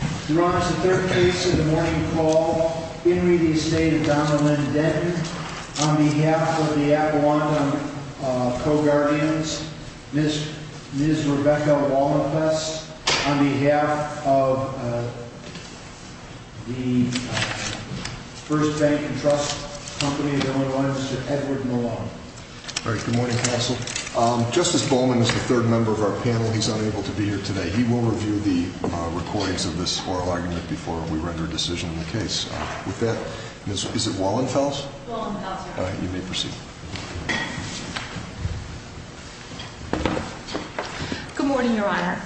on behalf of the Avalon co-guardians, Ms. Rebecca Walnopess, on behalf of the First Bank & Trust Company, the only one, Mr. Edward Malone. All right, good morning, Counsel. Justice Bowman is the third member of our panel. He's unable to be here today. He will review the recordings of this oral argument before we render a decision in the case. With that, Ms. Wallenfels, you may proceed. Good morning, Your Honor.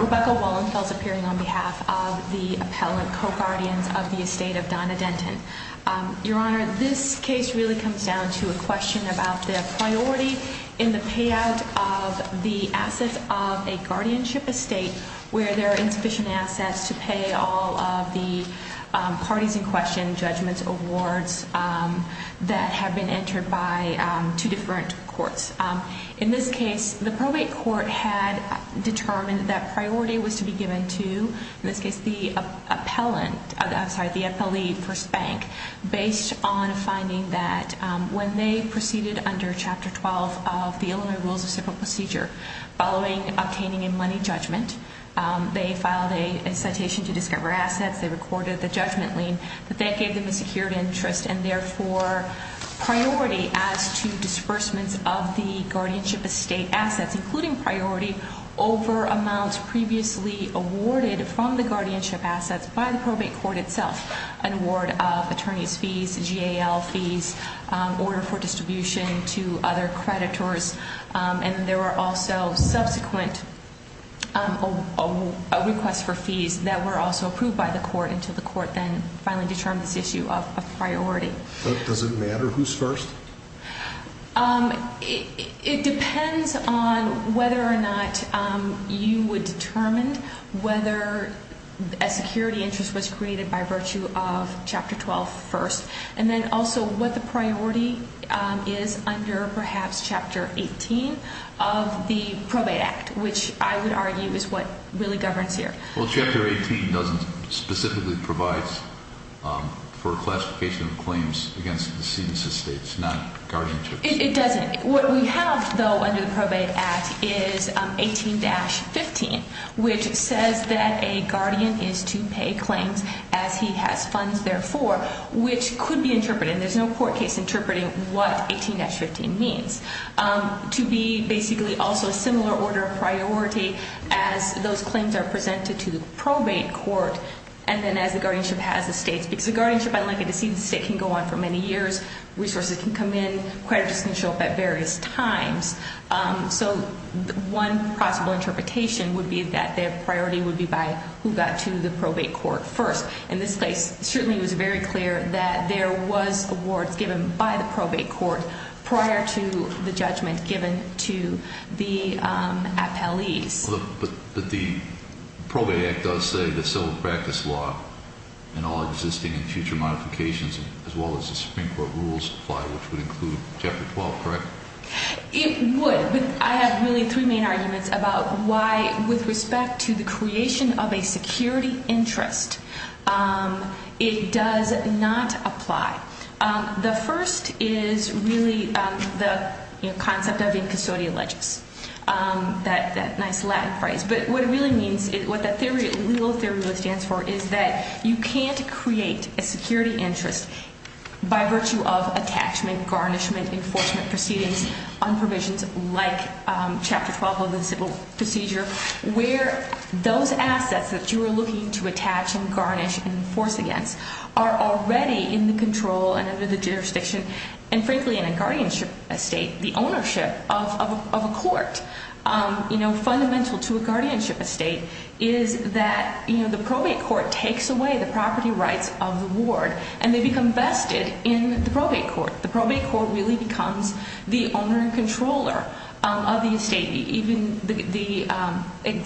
Rebecca Wallenfels appearing on behalf of the appellant co-guardians of the Estate of Donna Denton. Your Honor, this case really comes down to a question about the priority in the payout of the assets of a guardianship estate where there are insufficient assets to pay all of the parties in question, judgments, awards that have been entered by two different courts. In this case, the probate court had determined that priority was to be given to, in this case, the appellant, I'm sorry, the appellee, First Bank, based on finding that when they proceeded under Chapter 12 of the Illinois Rules of Civil Procedure, following obtaining a money judgment, they filed a citation to discover assets. They recorded the judgment lien. They gave them a secured interest and, therefore, priority as to disbursements of the guardianship estate assets, including priority over amounts previously awarded from the guardianship assets by the probate court itself, an award of attorney's fees, GAL fees, order for distribution to other creditors. And there were also subsequent requests for fees that were also approved by the court until the court then finally determined this issue of priority. Does it matter who's first? It depends on whether or not you would determine whether a security interest was created by virtue of Chapter 12 first and then also what the priority is under, perhaps, Chapter 18 of the Probate Act, which I would argue is what really governs here. Well, Chapter 18 doesn't specifically provide for classification of claims against decedents' estates, not guardianship. It doesn't. What we have, though, under the Probate Act is 18-15, which says that a guardian is to pay claims as he has funds, therefore, which could be interpreted, and there's no court case interpreting what 18-15 means, to be basically also a similar order of priority as those claims are presented to the probate court and then as the guardianship has estates, because the guardianship, unlike a decedent estate, can go on for many years. Resources can come in. Creditors can show up at various times. So one possible interpretation would be that their priority would be by who got to the probate court first. In this case, it certainly was very clear that there was awards given by the probate court prior to the judgment given to the appellees. But the Probate Act does say that civil practice law and all existing and future modifications, as well as the Supreme Court rules apply, which would include Chapter 12, correct? It would. I have really three main arguments about why, with respect to the creation of a security interest, it does not apply. The first is really the concept of incustodial legis, that nice Latin phrase. But what it really means, what the legal theory really stands for is that you can't create a security interest by virtue of attachment, garnishment, enforcement proceedings on provisions like Chapter 12 of the civil procedure, where those assets that you are looking to attach and garnish and enforce against are already in the control and under the jurisdiction. And frankly, in a guardianship estate, the ownership of a court, fundamental to a guardianship estate, is that the probate court takes away the property rights of the ward, and they become vested in the probate court. The probate court really becomes the owner and controller of the estate. Even the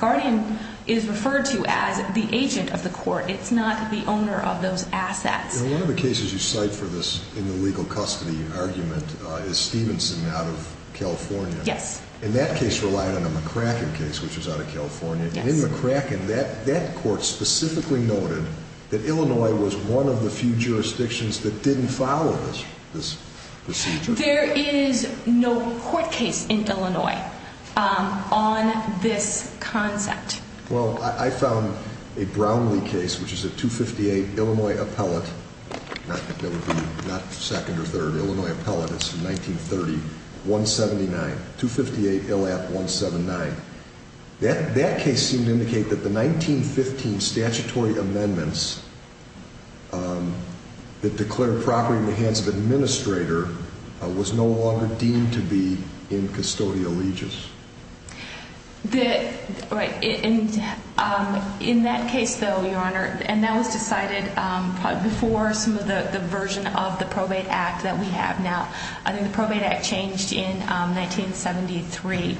guardian is referred to as the agent of the court. It's not the owner of those assets. One of the cases you cite for this in the legal custody argument is Stevenson out of California. Yes. And that case relied on a McCracken case, which was out of California. Yes. And in McCracken, that court specifically noted that Illinois was one of the few jurisdictions that didn't follow this procedure. There is no court case in Illinois on this concept. Well, I found a Brownlee case, which is a 258 Illinois appellate. That would be not second or third. Illinois appellate. It's from 1930. 179. 258 ILAP 179. That case seemed to indicate that the 1915 statutory amendments that declared property in the hands of administrator was no longer deemed to be in custodial allegiance. Right. In that case, though, Your Honor, and that was decided probably before some of the version of the Probate Act that we have now. I think the Probate Act changed in 1973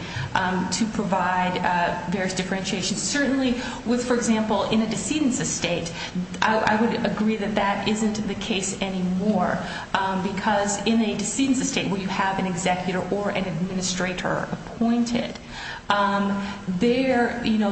to provide various differentiations. Certainly with, for example, in a decedent's estate, I would agree that that isn't the case anymore. Because in a decedent's estate where you have an executor or an administrator appointed,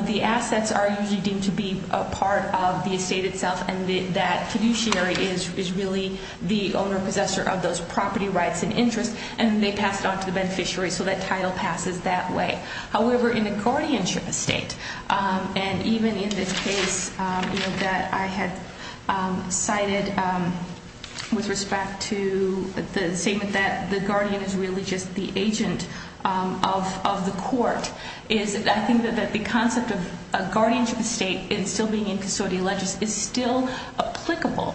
the assets are usually deemed to be a part of the estate itself. And that fiduciary is really the owner or possessor of those property rights and interests. And they pass it on to the beneficiary. So that title passes that way. However, in a guardianship estate, and even in this case that I had cited with respect to the statement that the guardian is really just the agent of the court, I think that the concept of a guardianship estate and still being in custodial allegiance is still applicable.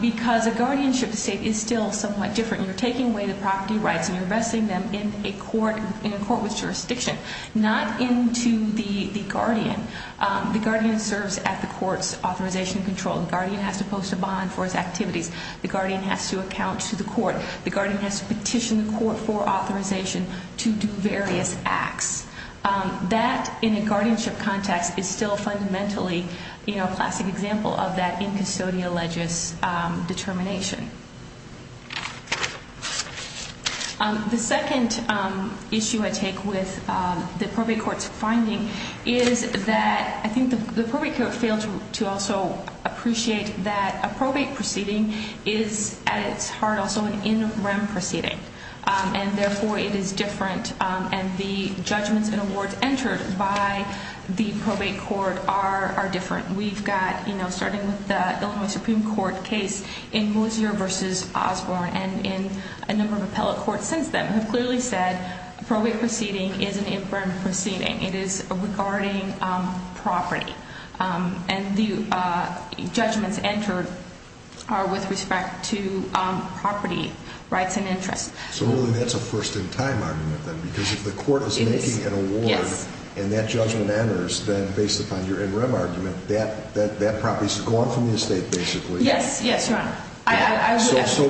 Because a guardianship estate is still somewhat different. You're taking away the property rights and you're vesting them in a court with jurisdiction, not into the guardian. The guardian serves at the court's authorization and control. The guardian has to post a bond for his activities. The guardian has to account to the court. The guardian has to petition the court for authorization to do various acts. That, in a guardianship context, is still fundamentally a classic example of that in custodial allegiance determination. The second issue I take with the probate court's finding is that I think the probate court failed to also appreciate that a probate proceeding is, at its heart, also an in rem proceeding. And, therefore, it is different. And the judgments and awards entered by the probate court are different. We've got, starting with the Illinois Supreme Court case in Mosier v. Osborne and in a number of appellate courts since then, have clearly said a probate proceeding is an in rem proceeding. It is regarding property. And the judgments entered are with respect to property rights and interests. So, really, that's a first-in-time argument, then, because if the court is making an award and that judgment enters, then, based upon your in rem argument, that property is gone from the estate, basically. Yes. Yes, Your Honor. So,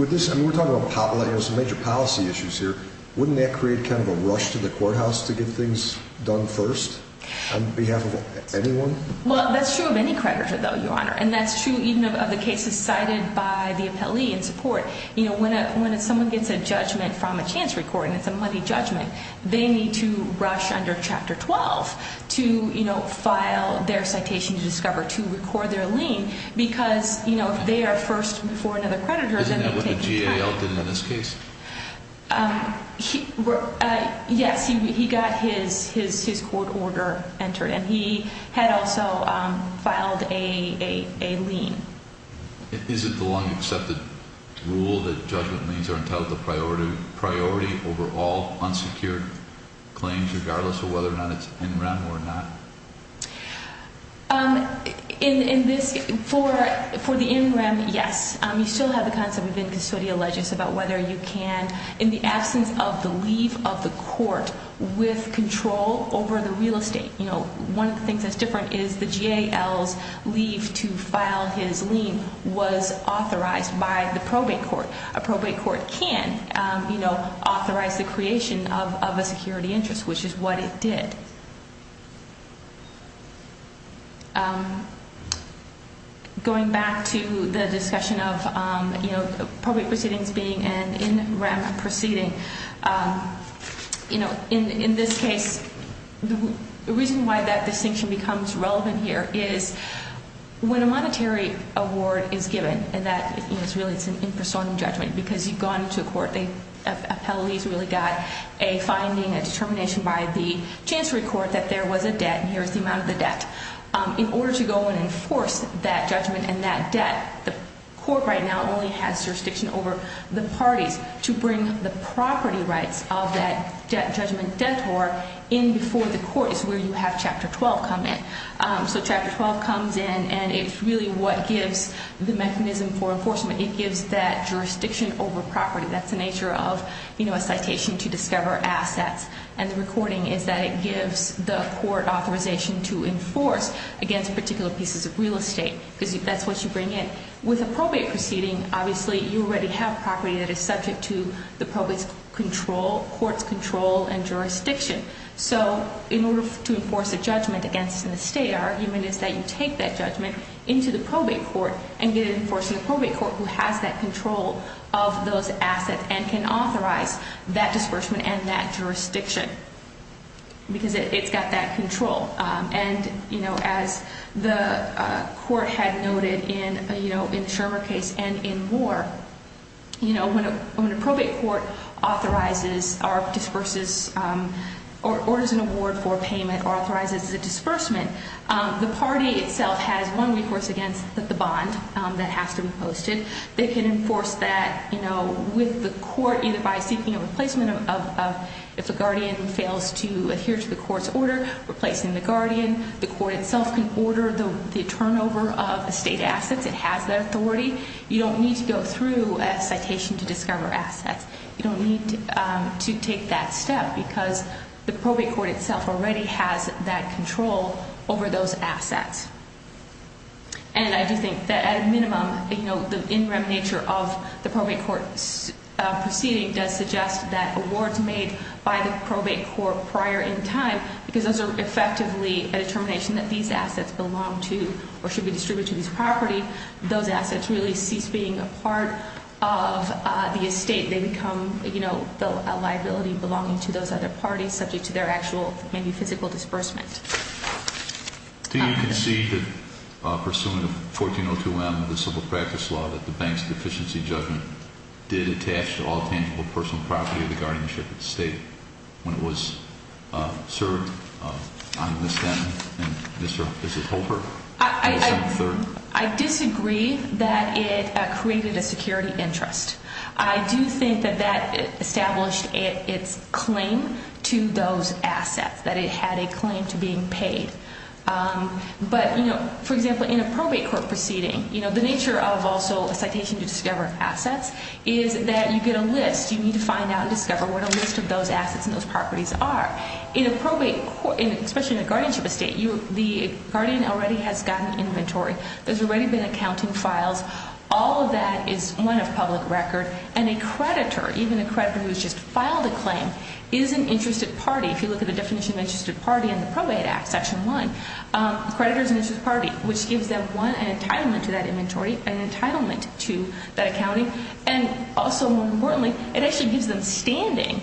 with this, I mean, we're talking about major policy issues here. Wouldn't that create kind of a rush to the courthouse to get things done first on behalf of anyone? Well, that's true of any creditor, though, Your Honor. And that's true even of the cases cited by the appellee in support. You know, when someone gets a judgment from a chance recording, it's a money judgment, they need to rush under Chapter 12 to, you know, file their citation to discover, to record their lien, because, you know, if they are first before another creditor, then they take time. Isn't that what the GAL did in this case? Yes, he got his court order entered, and he had also filed a lien. Is it the long accepted rule that judgment liens are entitled to priority over all unsecured claims, regardless of whether or not it's in rem or not? In this, for the in rem, yes. You still have the concept within custodial legis about whether you can, in the absence of the leave of the court with control over the real estate. You know, one of the things that's different is the GAL's leave to file his lien was authorized by the probate court. A probate court can, you know, authorize the creation of a security interest, which is what it did. Going back to the discussion of, you know, probate proceedings being an in rem proceeding, you know, in this case, the reason why that distinction becomes relevant here is when a monetary award is given, and that, you know, it's really, it's an impersonal judgment, because you've gone to a court, a appellee's really got a finding, a determination by the chancery court that there was a debt, and here's the amount of the debt. In order to go and enforce that judgment and that debt, the court right now only has jurisdiction over the parties. To bring the property rights of that judgment debtor in before the court is where you have Chapter 12 come in. So Chapter 12 comes in, and it's really what gives the mechanism for enforcement. It gives that jurisdiction over property. That's the nature of, you know, a citation to discover assets, and the recording is that it gives the court authorization to enforce against particular pieces of real estate, because that's what you bring in. With a probate proceeding, obviously, you already have property that is subject to the probate's control, court's control and jurisdiction. So in order to enforce a judgment against an estate, our argument is that you take that judgment into the probate court and get it enforced in the probate court who has that control of those assets and can authorize that disbursement and that jurisdiction, because it's got that control. And, you know, as the court had noted in, you know, in the Shermer case and in Moore, you know, when a probate court authorizes or disburses or orders an award for a payment or authorizes a disbursement, the party itself has one recourse against the bond that has to be posted. They can enforce that, you know, with the court either by seeking a replacement of if the guardian fails to adhere to the court's order, replacing the guardian. The court itself can order the turnover of estate assets. It has that authority. You don't need to go through a citation to discover assets. You don't need to take that step, because the probate court itself already has that control over those assets. And I do think that at a minimum, you know, the in rem nature of the probate court proceeding does suggest that awards made by the probate court prior in time, because those are effectively a determination that these assets belong to or should be distributed to these properties, those assets really cease being a part of the estate. They become, you know, a liability belonging to those other parties subject to their actual maybe physical disbursement. Do you concede that pursuant to 1402M of the Civil Practice Law that the Bank's Deficiency Judgment did attach to all tangible personal property of the guardianship of the estate when it was served on this then and this is over on December 3rd? I disagree that it created a security interest. I do think that that established its claim to those assets, that it had a claim to being paid. But, you know, for example, in a probate court proceeding, you know, the nature of also a citation to discover assets is that you get a list. You need to find out and discover what a list of those assets and those properties are. In a probate court, especially in a guardianship estate, the guardian already has gotten inventory. There's already been accounting files. All of that is one of public record. And a creditor, even a creditor who's just filed a claim, is an interested party. If you look at the definition of interested party in the Probate Act, Section 1, a creditor is an interested party, which gives them, one, an entitlement to that inventory, an entitlement to that accounting, and also, more importantly, it actually gives them standing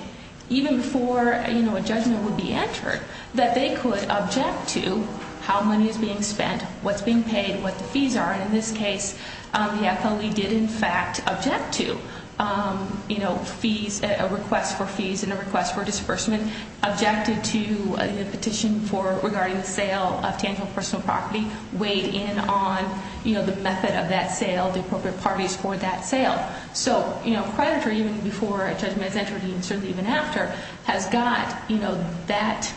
even before, you know, a judgment would be entered, that they could object to how money is being spent, what's being paid, what the fees are. And in this case, the FLE did, in fact, object to, you know, fees, a request for fees and a request for disbursement, objected to a petition regarding the sale of tangible personal property, weighed in on, you know, the method of that sale, the appropriate parties for that sale. So, you know, a creditor, even before a judgment is entered, and certainly even after, has got, you know, that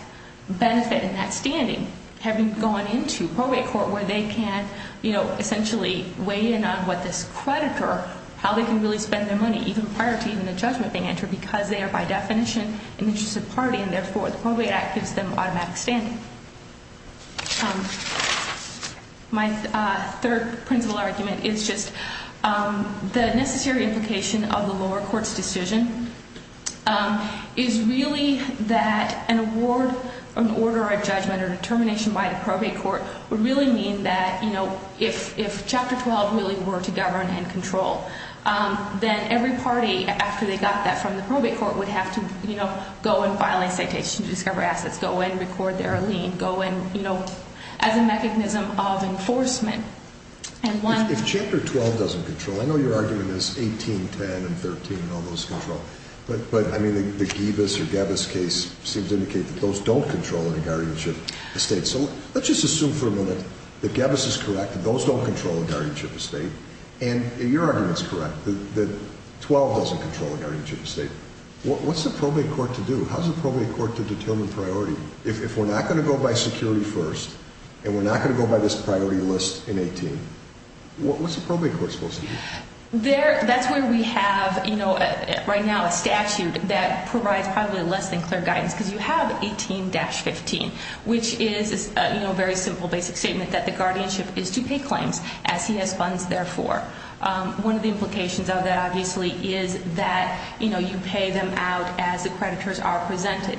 benefit and that standing having gone into probate court where they can, you know, essentially weigh in on what this creditor, how they can really spend their money, even prior to even the judgment being entered, because they are, by definition, an interested party, and therefore the Probate Act gives them automatic standing. My third principle argument is just the necessary implication of the lower court's decision is really that an award, an order, a judgment, or a determination by the probate court would really mean that, you know, if Chapter 12 really were to govern and control, then every party, after they got that from the probate court, would have to, you know, go and file a citation to discover assets, go and record their lien, go and, you know, as a mechanism of enforcement. If Chapter 12 doesn't control, I know you're arguing this, 18, 10, and 13, and all those control, but, I mean, the Givas or Gavis case seems to indicate that those don't control a guardianship estate. So let's just assume for a moment that Gavis is correct and those don't control a guardianship estate, and your argument is correct that 12 doesn't control a guardianship estate. What's the probate court to do? How's the probate court to determine priority? If we're not going to go by security first and we're not going to go by this priority list in 18, what's the probate court supposed to do? That's where we have, you know, right now a statute that provides probably less than clear guidance, because you have 18-15, which is, you know, a very simple basic statement that the guardianship is to pay claims as he has funds therefore. One of the implications of that, obviously, is that, you know, you pay them out as the creditors are presented.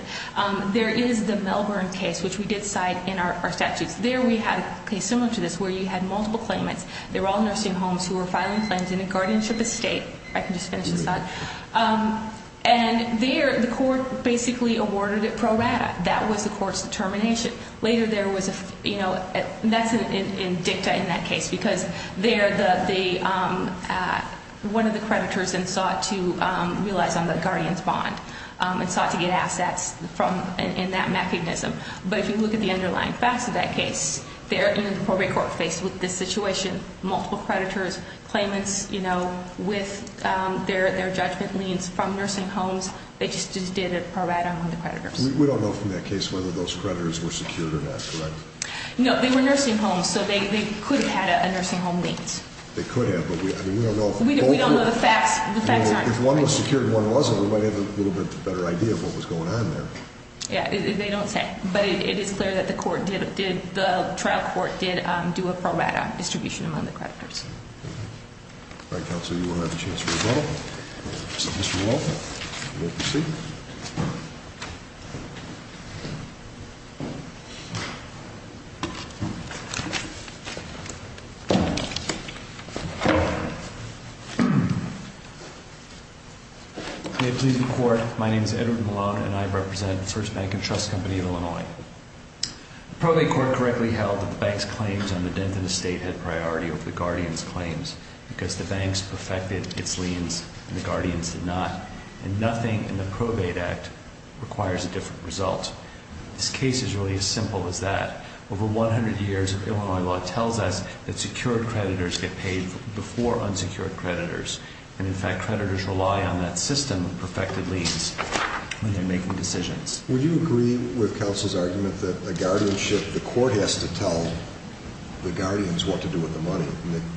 There is the Melbourne case, which we did cite in our statutes. There we had a case similar to this where you had multiple claimants. They were all nursing homes who were filing claims in a guardianship estate. I can just finish this up. And there the court basically awarded it pro rata. That was the court's determination. Later there was a, you know, that's in dicta in that case, because one of the creditors then sought to realize on the guardian's bond and sought to get assets in that mechanism. But if you look at the underlying facts of that case, there in the probate court faced with this situation, multiple creditors, claimants, you know, with their judgment liens from nursing homes, they just did a pro rata on the creditors. We don't know from that case whether those creditors were secured or not, correct? No, they were nursing homes, so they could have had a nursing home liens. They could have, but we don't know. We don't know the facts. If one was secured and one wasn't, we might have a little bit better idea of what was going on there. Yeah, they don't say. But it is clear that the trial court did do a pro rata distribution among the creditors. All right, counsel, you will have a chance to rebuttal. Mr. Wolfe, you may proceed. May it please the Court, my name is Edward Malone, and I represent First Bank & Trust Company of Illinois. The probate court correctly held that the bank's claims on the Denton estate had priority over the guardian's claims because the banks perfected its liens and the guardians did not, and nothing in the probate act requires a different result. This case is really as simple as that. Over 100 years of Illinois law tells us that secured creditors get paid before unsecured creditors, and, in fact, creditors rely on that system of perfected liens when they're making decisions. Would you agree with counsel's argument that a guardianship, the court has to tell the guardians what to do with the money?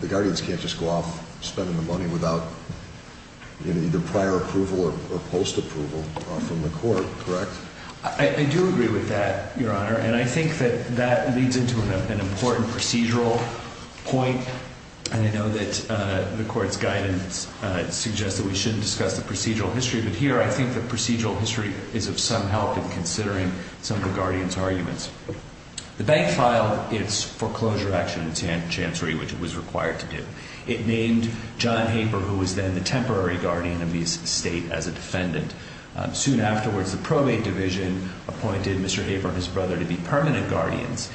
The guardians can't just go off spending the money without either prior approval or post approval from the court, correct? I do agree with that, Your Honor, and I think that that leads into an important procedural point, and I know that the court's guidance suggests that we shouldn't discuss the procedural history, but here I think the procedural history is of some help in considering some of the guardians' arguments. The bank filed its foreclosure action in chancery, which it was required to do. It named John Haper, who was then the temporary guardian of the estate, as a defendant. Soon afterwards, the probate division appointed Mr. Haper and his brother to be permanent guardians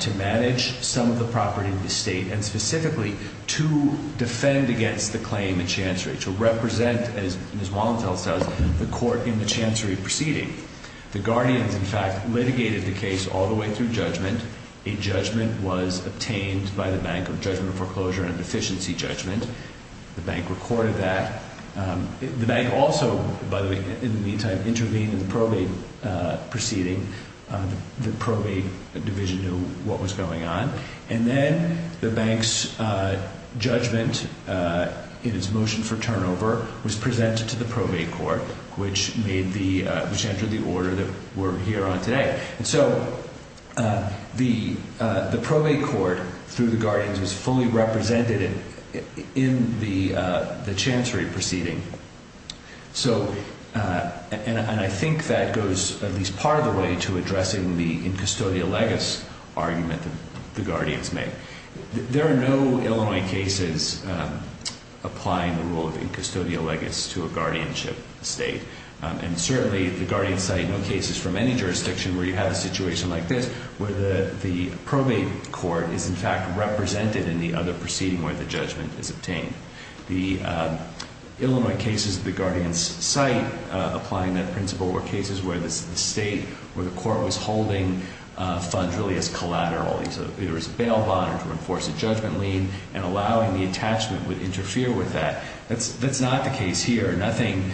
to manage some of the property in the estate and specifically to defend against the claim in chancery, to represent, as Ms. Wallentell says, the court in the chancery proceeding. The guardians, in fact, litigated the case all the way through judgment. A judgment was obtained by the Bank of Judgment Foreclosure and Deficiency Judgment. The bank recorded that. The bank also, by the way, in the meantime, intervened in the probate proceeding. The probate division knew what was going on, and then the bank's judgment in its motion for turnover was presented to the probate court, which entered the order that we're here on today. And so the probate court, through the guardians, was fully represented in the chancery proceeding. And I think that goes at least part of the way to addressing the incustodial legis argument that the guardians made. There are no Illinois cases applying the rule of incustodial legis to a guardianship estate, and certainly the guardians cite no cases from any jurisdiction where you have a situation like this where the probate court is, in fact, represented in the other proceeding where the judgment is obtained. The Illinois cases the guardians cite applying that principle were cases where the state, where the court was holding funds really as collateral. There was a bail bond to enforce a judgment lien, and allowing the attachment would interfere with that. That's not the case here. Nothing,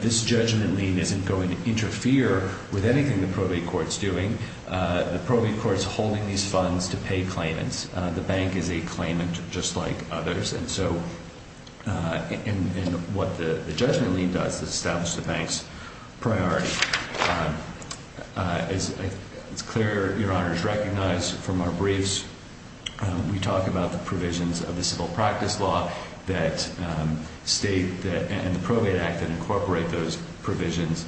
this judgment lien isn't going to interfere with anything the probate court is doing. The probate court is holding these funds to pay claimants. The bank is a claimant just like others, and so what the judgment lien does is establish the bank's priority. It's clear, Your Honors, recognized from our briefs we talk about the provisions of the civil practice law and the probate act that incorporate those provisions.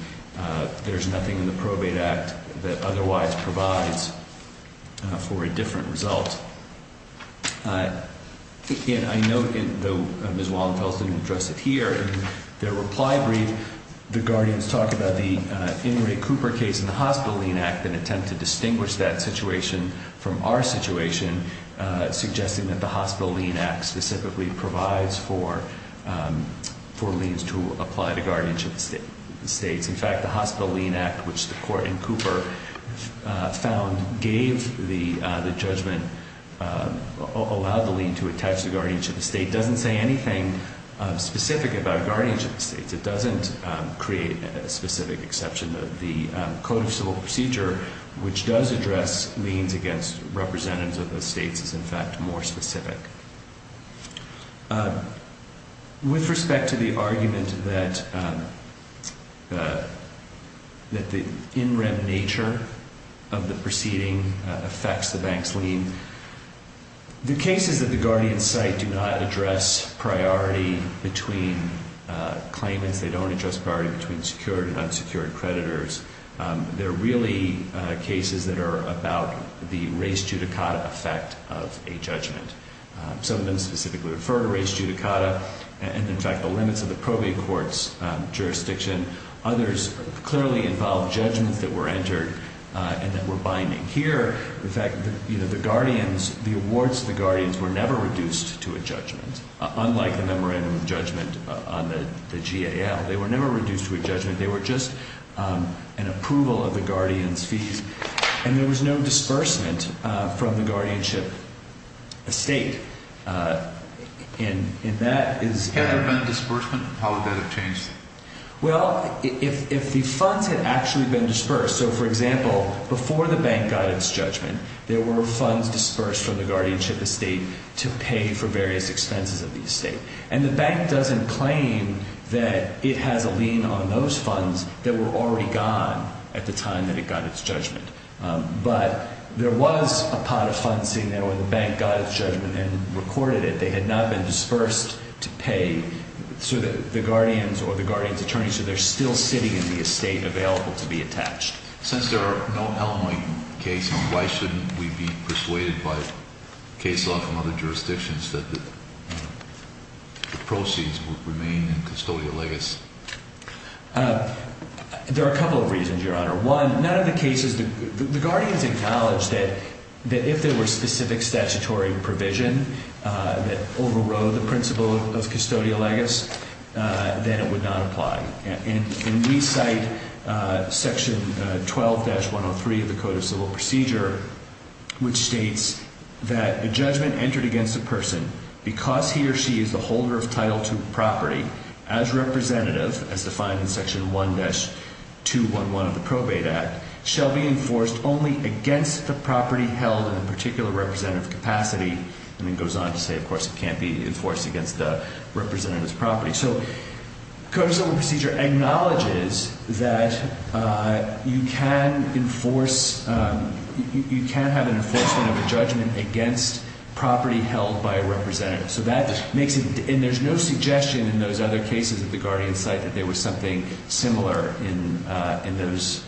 There's nothing in the probate act that otherwise provides for a different result. Again, I note Ms. Wallenfeld didn't address it here. In their reply brief, the guardians talk about the Ingrate Cooper case in the Hospital Lien Act and attempt to distinguish that situation from our situation, suggesting that the Hospital Lien Act specifically provides for liens to apply to guardianship estates. In fact, the Hospital Lien Act, which the court in Cooper found gave the judgment, allowed the lien to attach to guardianship estates, doesn't say anything specific about guardianship estates. It doesn't create a specific exception. The Code of Civil Procedure, which does address liens against representatives of estates, is in fact more specific. With respect to the argument that the in rem nature of the proceeding affects the bank's lien, the cases that the guardians cite do not address priority between claimants. They don't address priority between secured and unsecured creditors. They're really cases that are about the res judicata effect of a judgment. Some of them specifically refer to res judicata and, in fact, the limits of the probate court's jurisdiction. Others clearly involve judgments that were entered and that were binding. Here, in fact, the awards to the guardians were never reduced to a judgment, unlike the memorandum of judgment on the GAL. They were never reduced to a judgment. They were just an approval of the guardians' fees. And there was no disbursement from the guardianship estate. And that is... Had there been a disbursement? How would that have changed it? Well, if the funds had actually been disbursed, so, for example, before the bank got its judgment, there were funds disbursed from the guardianship estate to pay for various expenses of the estate. And the bank doesn't claim that it has a lien on those funds that were already gone at the time that it got its judgment. But there was a pot of funds sitting there where the bank got its judgment and recorded it. They had not been disbursed to pay to the guardians or the guardians' attorneys, so they're still sitting in the estate available to be attached. Since there are no Illinois cases, why shouldn't we be persuaded by case law from other jurisdictions that the proceeds would remain in custodial legis? There are a couple of reasons, Your Honor. One, none of the cases... The guardians acknowledged that if there were specific statutory provision that overrode the principle of custodial legis, then it would not apply. And we cite Section 12-103 of the Code of Civil Procedure, which states that a judgment entered against a person because he or she is the holder of Title II property as representative, as defined in Section 1-211 of the Probate Act, shall be enforced only against the property held in a particular representative capacity. And it goes on to say, of course, it can't be enforced against the representative's property. So Code of Civil Procedure acknowledges that you can't have an enforcement of a judgment against property held by a representative. And there's no suggestion in those other cases that the guardians cite that there was something similar in the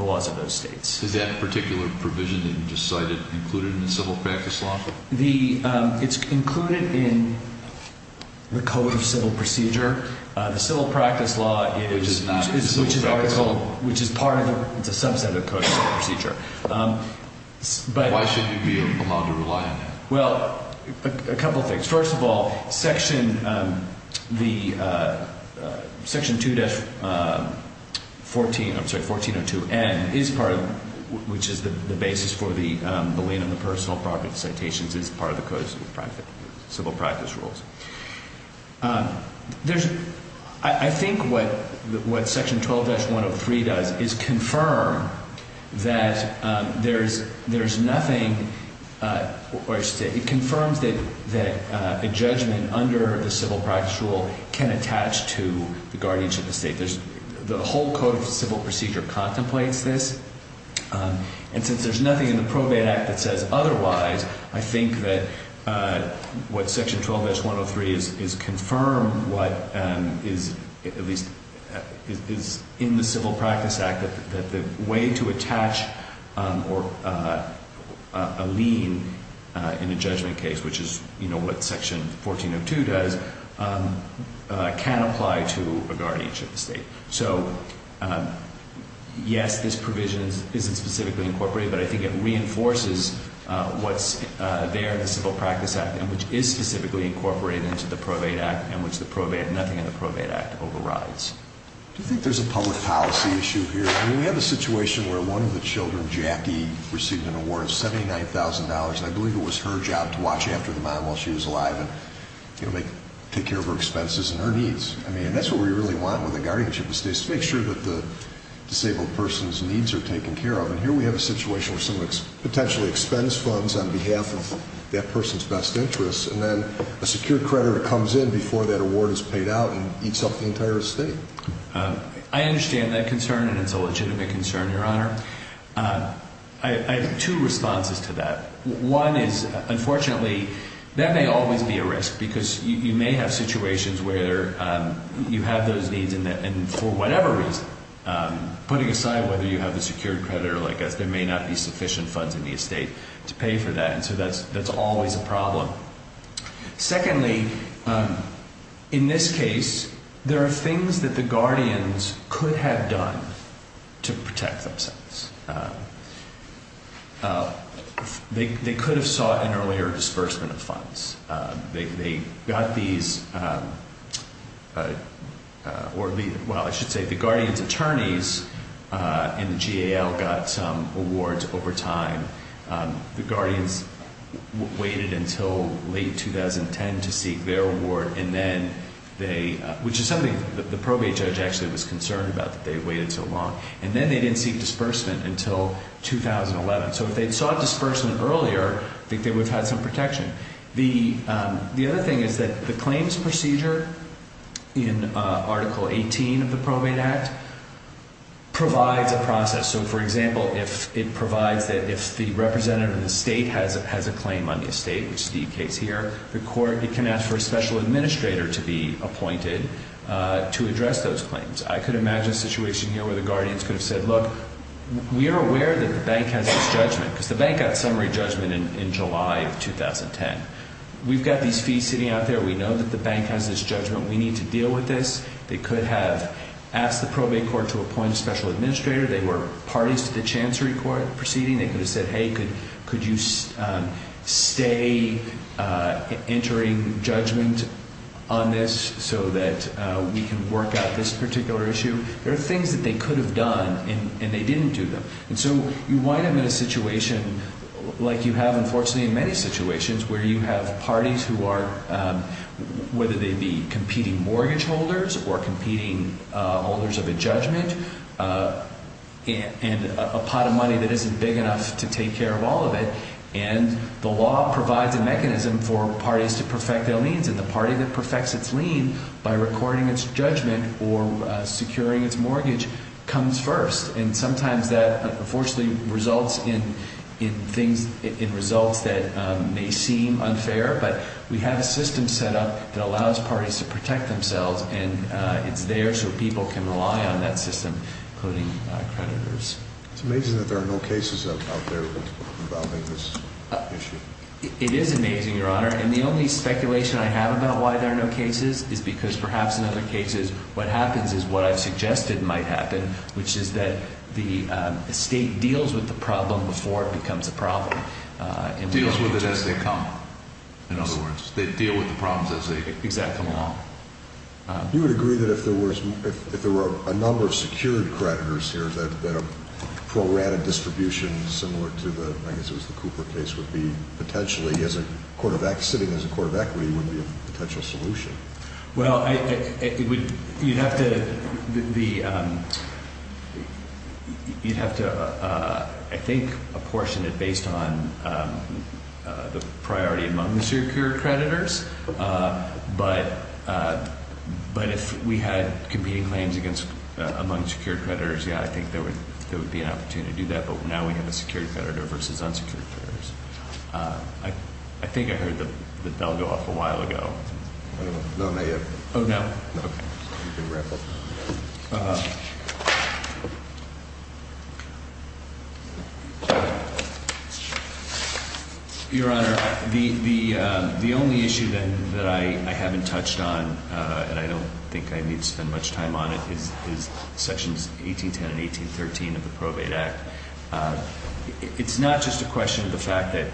laws of those states. Is that particular provision that you just cited included in the civil practice law? It's included in the Code of Civil Procedure. The civil practice law is... Which is not a civil practice law? Which is part of the subset of the Code of Civil Procedure. Why should you be allowed to rely on that? Well, a couple of things. First of all, Section 2-1402N, which is the basis for the lien on the personal property citations, is part of the Code of Civil Practice rules. I think what Section 12-103 does is confirm that there's nothing... It confirms that a judgment under the civil practice rule can attach to the guardianship of the state. The whole Code of Civil Procedure contemplates this. And since there's nothing in the probate act that says otherwise, I think that what Section 12-103 is, is confirm what is, at least, is in the civil practice act. That the way to attach a lien in a judgment case, which is what Section 14-02 does, can apply to a guardianship of the state. So, yes, this provision isn't specifically incorporated, but I think it reinforces what's there in the civil practice act, and which is specifically incorporated into the probate act, and which nothing in the probate act overrides. Do you think there's a public policy issue here? I mean, we have a situation where one of the children, Jackie, received an award of $79,000, and I believe it was her job to watch after the mom while she was alive and take care of her expenses and her needs. I mean, that's what we really want with a guardianship of states, to make sure that the disabled person's needs are taken care of. And here we have a situation where someone potentially expends funds on behalf of that person's best interests, and then a secured creditor comes in before that award is paid out and eats up the entire estate. I understand that concern, and it's a legitimate concern, Your Honor. I have two responses to that. One is, unfortunately, that may always be a risk, because you may have situations where you have those needs, and for whatever reason, putting aside whether you have the secured creditor or not, there may not be sufficient funds in the estate to pay for that, and so that's always a problem. Secondly, in this case, there are things that the guardians could have done to protect themselves. They could have sought an earlier disbursement of funds. They got these or, well, I should say the guardians' attorneys in the GAL got some awards over time. The guardians waited until late 2010 to seek their award, which is something that the probate judge actually was concerned about, that they waited so long, and then they didn't seek disbursement until 2011. So if they had sought disbursement earlier, I think they would have had some protection. The other thing is that the claims procedure in Article 18 of the Probate Act provides a process. So, for example, it provides that if the representative of the state has a claim on the estate, which is the case here, the court can ask for a special administrator to be appointed to address those claims. I could imagine a situation here where the guardians could have said, look, we are aware that the bank has this judgment, because the bank got summary judgment in July of 2010. We've got these fees sitting out there. We know that the bank has this judgment. We need to deal with this. They could have asked the probate court to appoint a special administrator. They were parties to the Chancery Court proceeding. They could have said, hey, could you stay entering judgment on this so that we can work out this particular issue? There are things that they could have done, and they didn't do them. And so you wind up in a situation like you have, unfortunately, in many situations, where you have parties who are, whether they be competing mortgage holders or competing holders of a judgment, and a pot of money that isn't big enough to take care of all of it, and the law provides a mechanism for parties to perfect their liens, and the party that perfects its lien by recording its judgment or securing its mortgage comes first. And sometimes that unfortunately results in things, in results that may seem unfair, but we have a system set up that allows parties to protect themselves, and it's there so people can rely on that system, including creditors. It's amazing that there are no cases out there involving this issue. It is amazing, Your Honor, and the only speculation I have about why there are no cases is because perhaps in other cases what happens is what I've suggested might happen, which is that the state deals with the problem before it becomes a problem. Deals with it as they come. In other words, they deal with the problems as they come. You would agree that if there were a number of secured creditors here that a pro-rata distribution similar to, I guess it was the Cooper case, would be potentially sitting as a court of equity would be a potential solution? Well, you'd have to, I think, apportion it based on the priority among the secured creditors, but if we had competing claims among secured creditors, yeah, I think there would be an opportunity to do that, but now we have a secured creditor versus unsecured creditors. I think I heard the bell go off a while ago. No, not yet. Oh, no? No. You can wrap up. Your Honor, the only issue, then, that I haven't touched on, and I don't think I need to spend much time on it, is Sections 1810 and 1813 of the Probate Act. It's not just a question of the fact that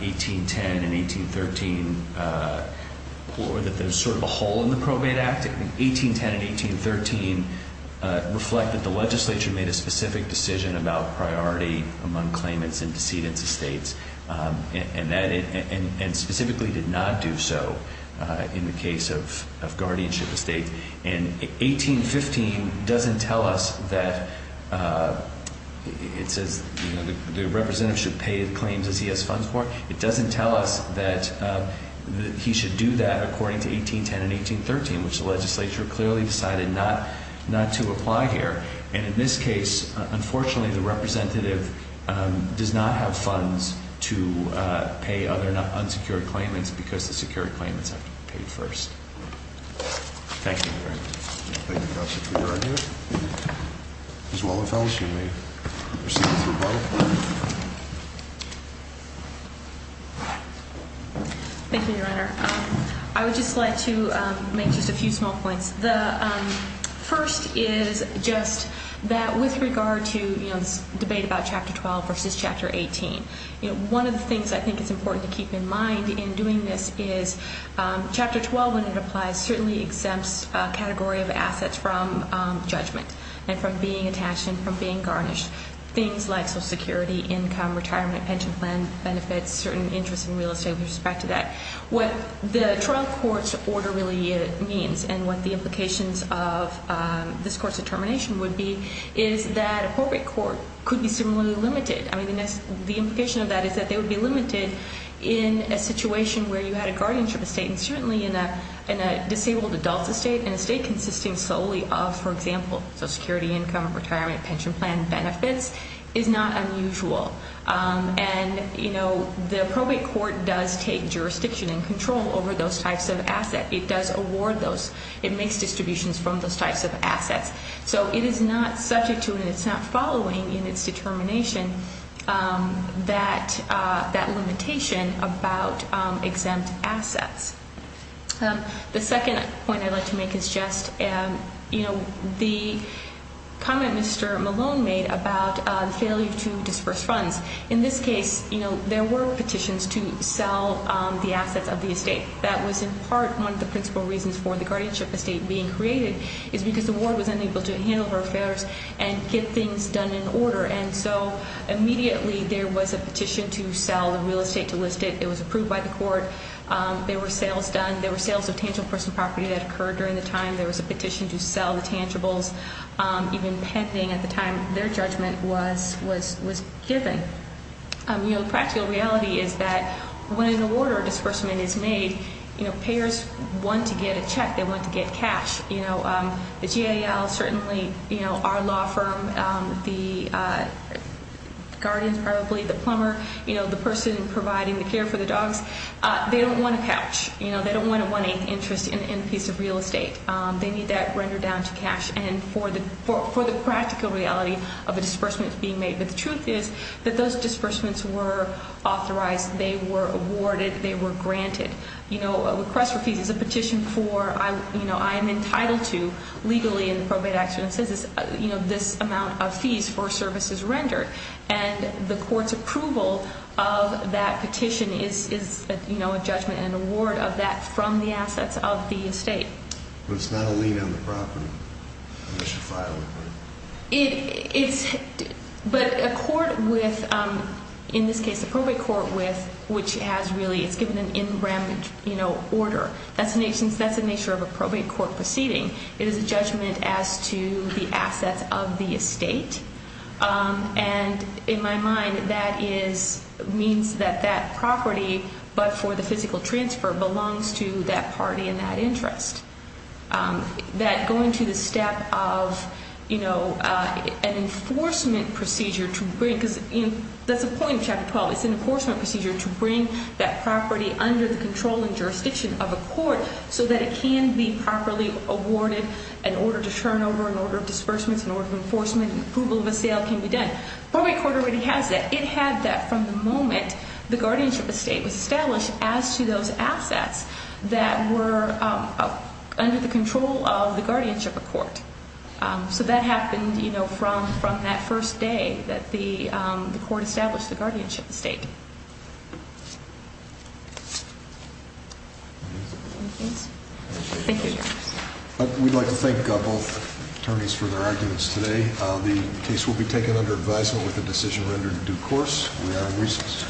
1810 and 1813, or that there's sort of a hole in the Probate Act. 1810 and 1813 are separate. reflect that the legislature made a specific decision about priority among claimants and decedents of states and specifically did not do so in the case of guardianship of states, and 1815 doesn't tell us that it says the representative should pay the claims as he has funds for. It doesn't tell us that he should do that according to 1810 and 1813, which the legislature clearly decided not to apply here. And in this case, unfortunately, the representative does not have funds to pay other unsecured claimants because the secured claimants have to be paid first. Thank you. Thank you, Counselor, for your argument. Ms. Wallenfels, you may proceed with your vote. Thank you, Your Honor. I would just like to make just a few small points. The first is just that with regard to this debate about Chapter 12 versus Chapter 18, one of the things I think it's important to keep in mind in doing this is Chapter 12, when it applies, certainly exempts a category of assets from judgment and from being attached and from being garnished, things like Social Security, income, retirement, pension plan benefits, certain interest in real estate with respect to that. What the trial court's order really means and what the implications of this court's determination would be is that appropriate court could be similarly limited. I mean, the implication of that is that they would be limited in a situation where you had a guardianship estate and certainly in a disabled adult estate, an estate consisting solely of, for example, Social Security, income, retirement, pension plan benefits is not unusual. And, you know, the appropriate court does take jurisdiction and control over those types of assets. It does award those. It makes distributions from those types of assets. So it is not subject to and it's not following in its determination that limitation about exempt assets. The second point I'd like to make is just, you know, the comment Mr. Malone made about failure to disperse funds. In this case, you know, there were petitions to sell the assets of the estate. That was in part one of the principal reasons for the guardianship estate being created is because the ward was unable to handle her affairs and get things done in order. And so immediately there was a petition to sell the real estate, to list it. It was approved by the court. There were sales done. There were sales of tangible person property that occurred during the time. There was a petition to sell the tangibles, even pending at the time their judgment was given. You know, the practical reality is that when an award or disbursement is made, you know, payers want to get a check. They want to get cash. You know, the GAL, certainly, you know, our law firm, the guardians probably, the plumber, you know, the person providing the care for the dogs, they don't want a couch. You know, they don't want a one-eighth interest in a piece of real estate. They need that rendered down to cash. And for the practical reality of a disbursement being made, but the truth is that those disbursements were authorized. They were awarded. They were granted. You know, a request for fees is a petition for, you know, I am entitled to legally in the probate action and census, you know, this amount of fees for services rendered. And the court's approval of that petition is, you know, a judgment and award of that from the assets of the estate. But it's not a lien on the property unless you file it, right? It's, but a court with, in this case, a probate court with, which has really, it's given an in rem, you know, order. That's the nature of a probate court proceeding. It is a judgment as to the assets of the estate. And in my mind, that is, means that that property, but for the physical transfer belongs to that party in that interest. That going to the step of, you know, an enforcement procedure to bring, because that's the point of Chapter 12. It's an enforcement procedure to bring that property under the control and jurisdiction of a court so that it can be properly awarded an order to turn over, an order of disbursements, an order of enforcement, and approval of a sale can be done. Probate court already has that. It had that from the moment the guardianship estate was established as to those assets that were under the control of the guardianship of court. So that happened, you know, from that first day that the court established the guardianship estate. Thank you. We'd like to thank both attorneys for their arguments today. The case will be taken under advisement with a decision rendered in due course. We are in recess.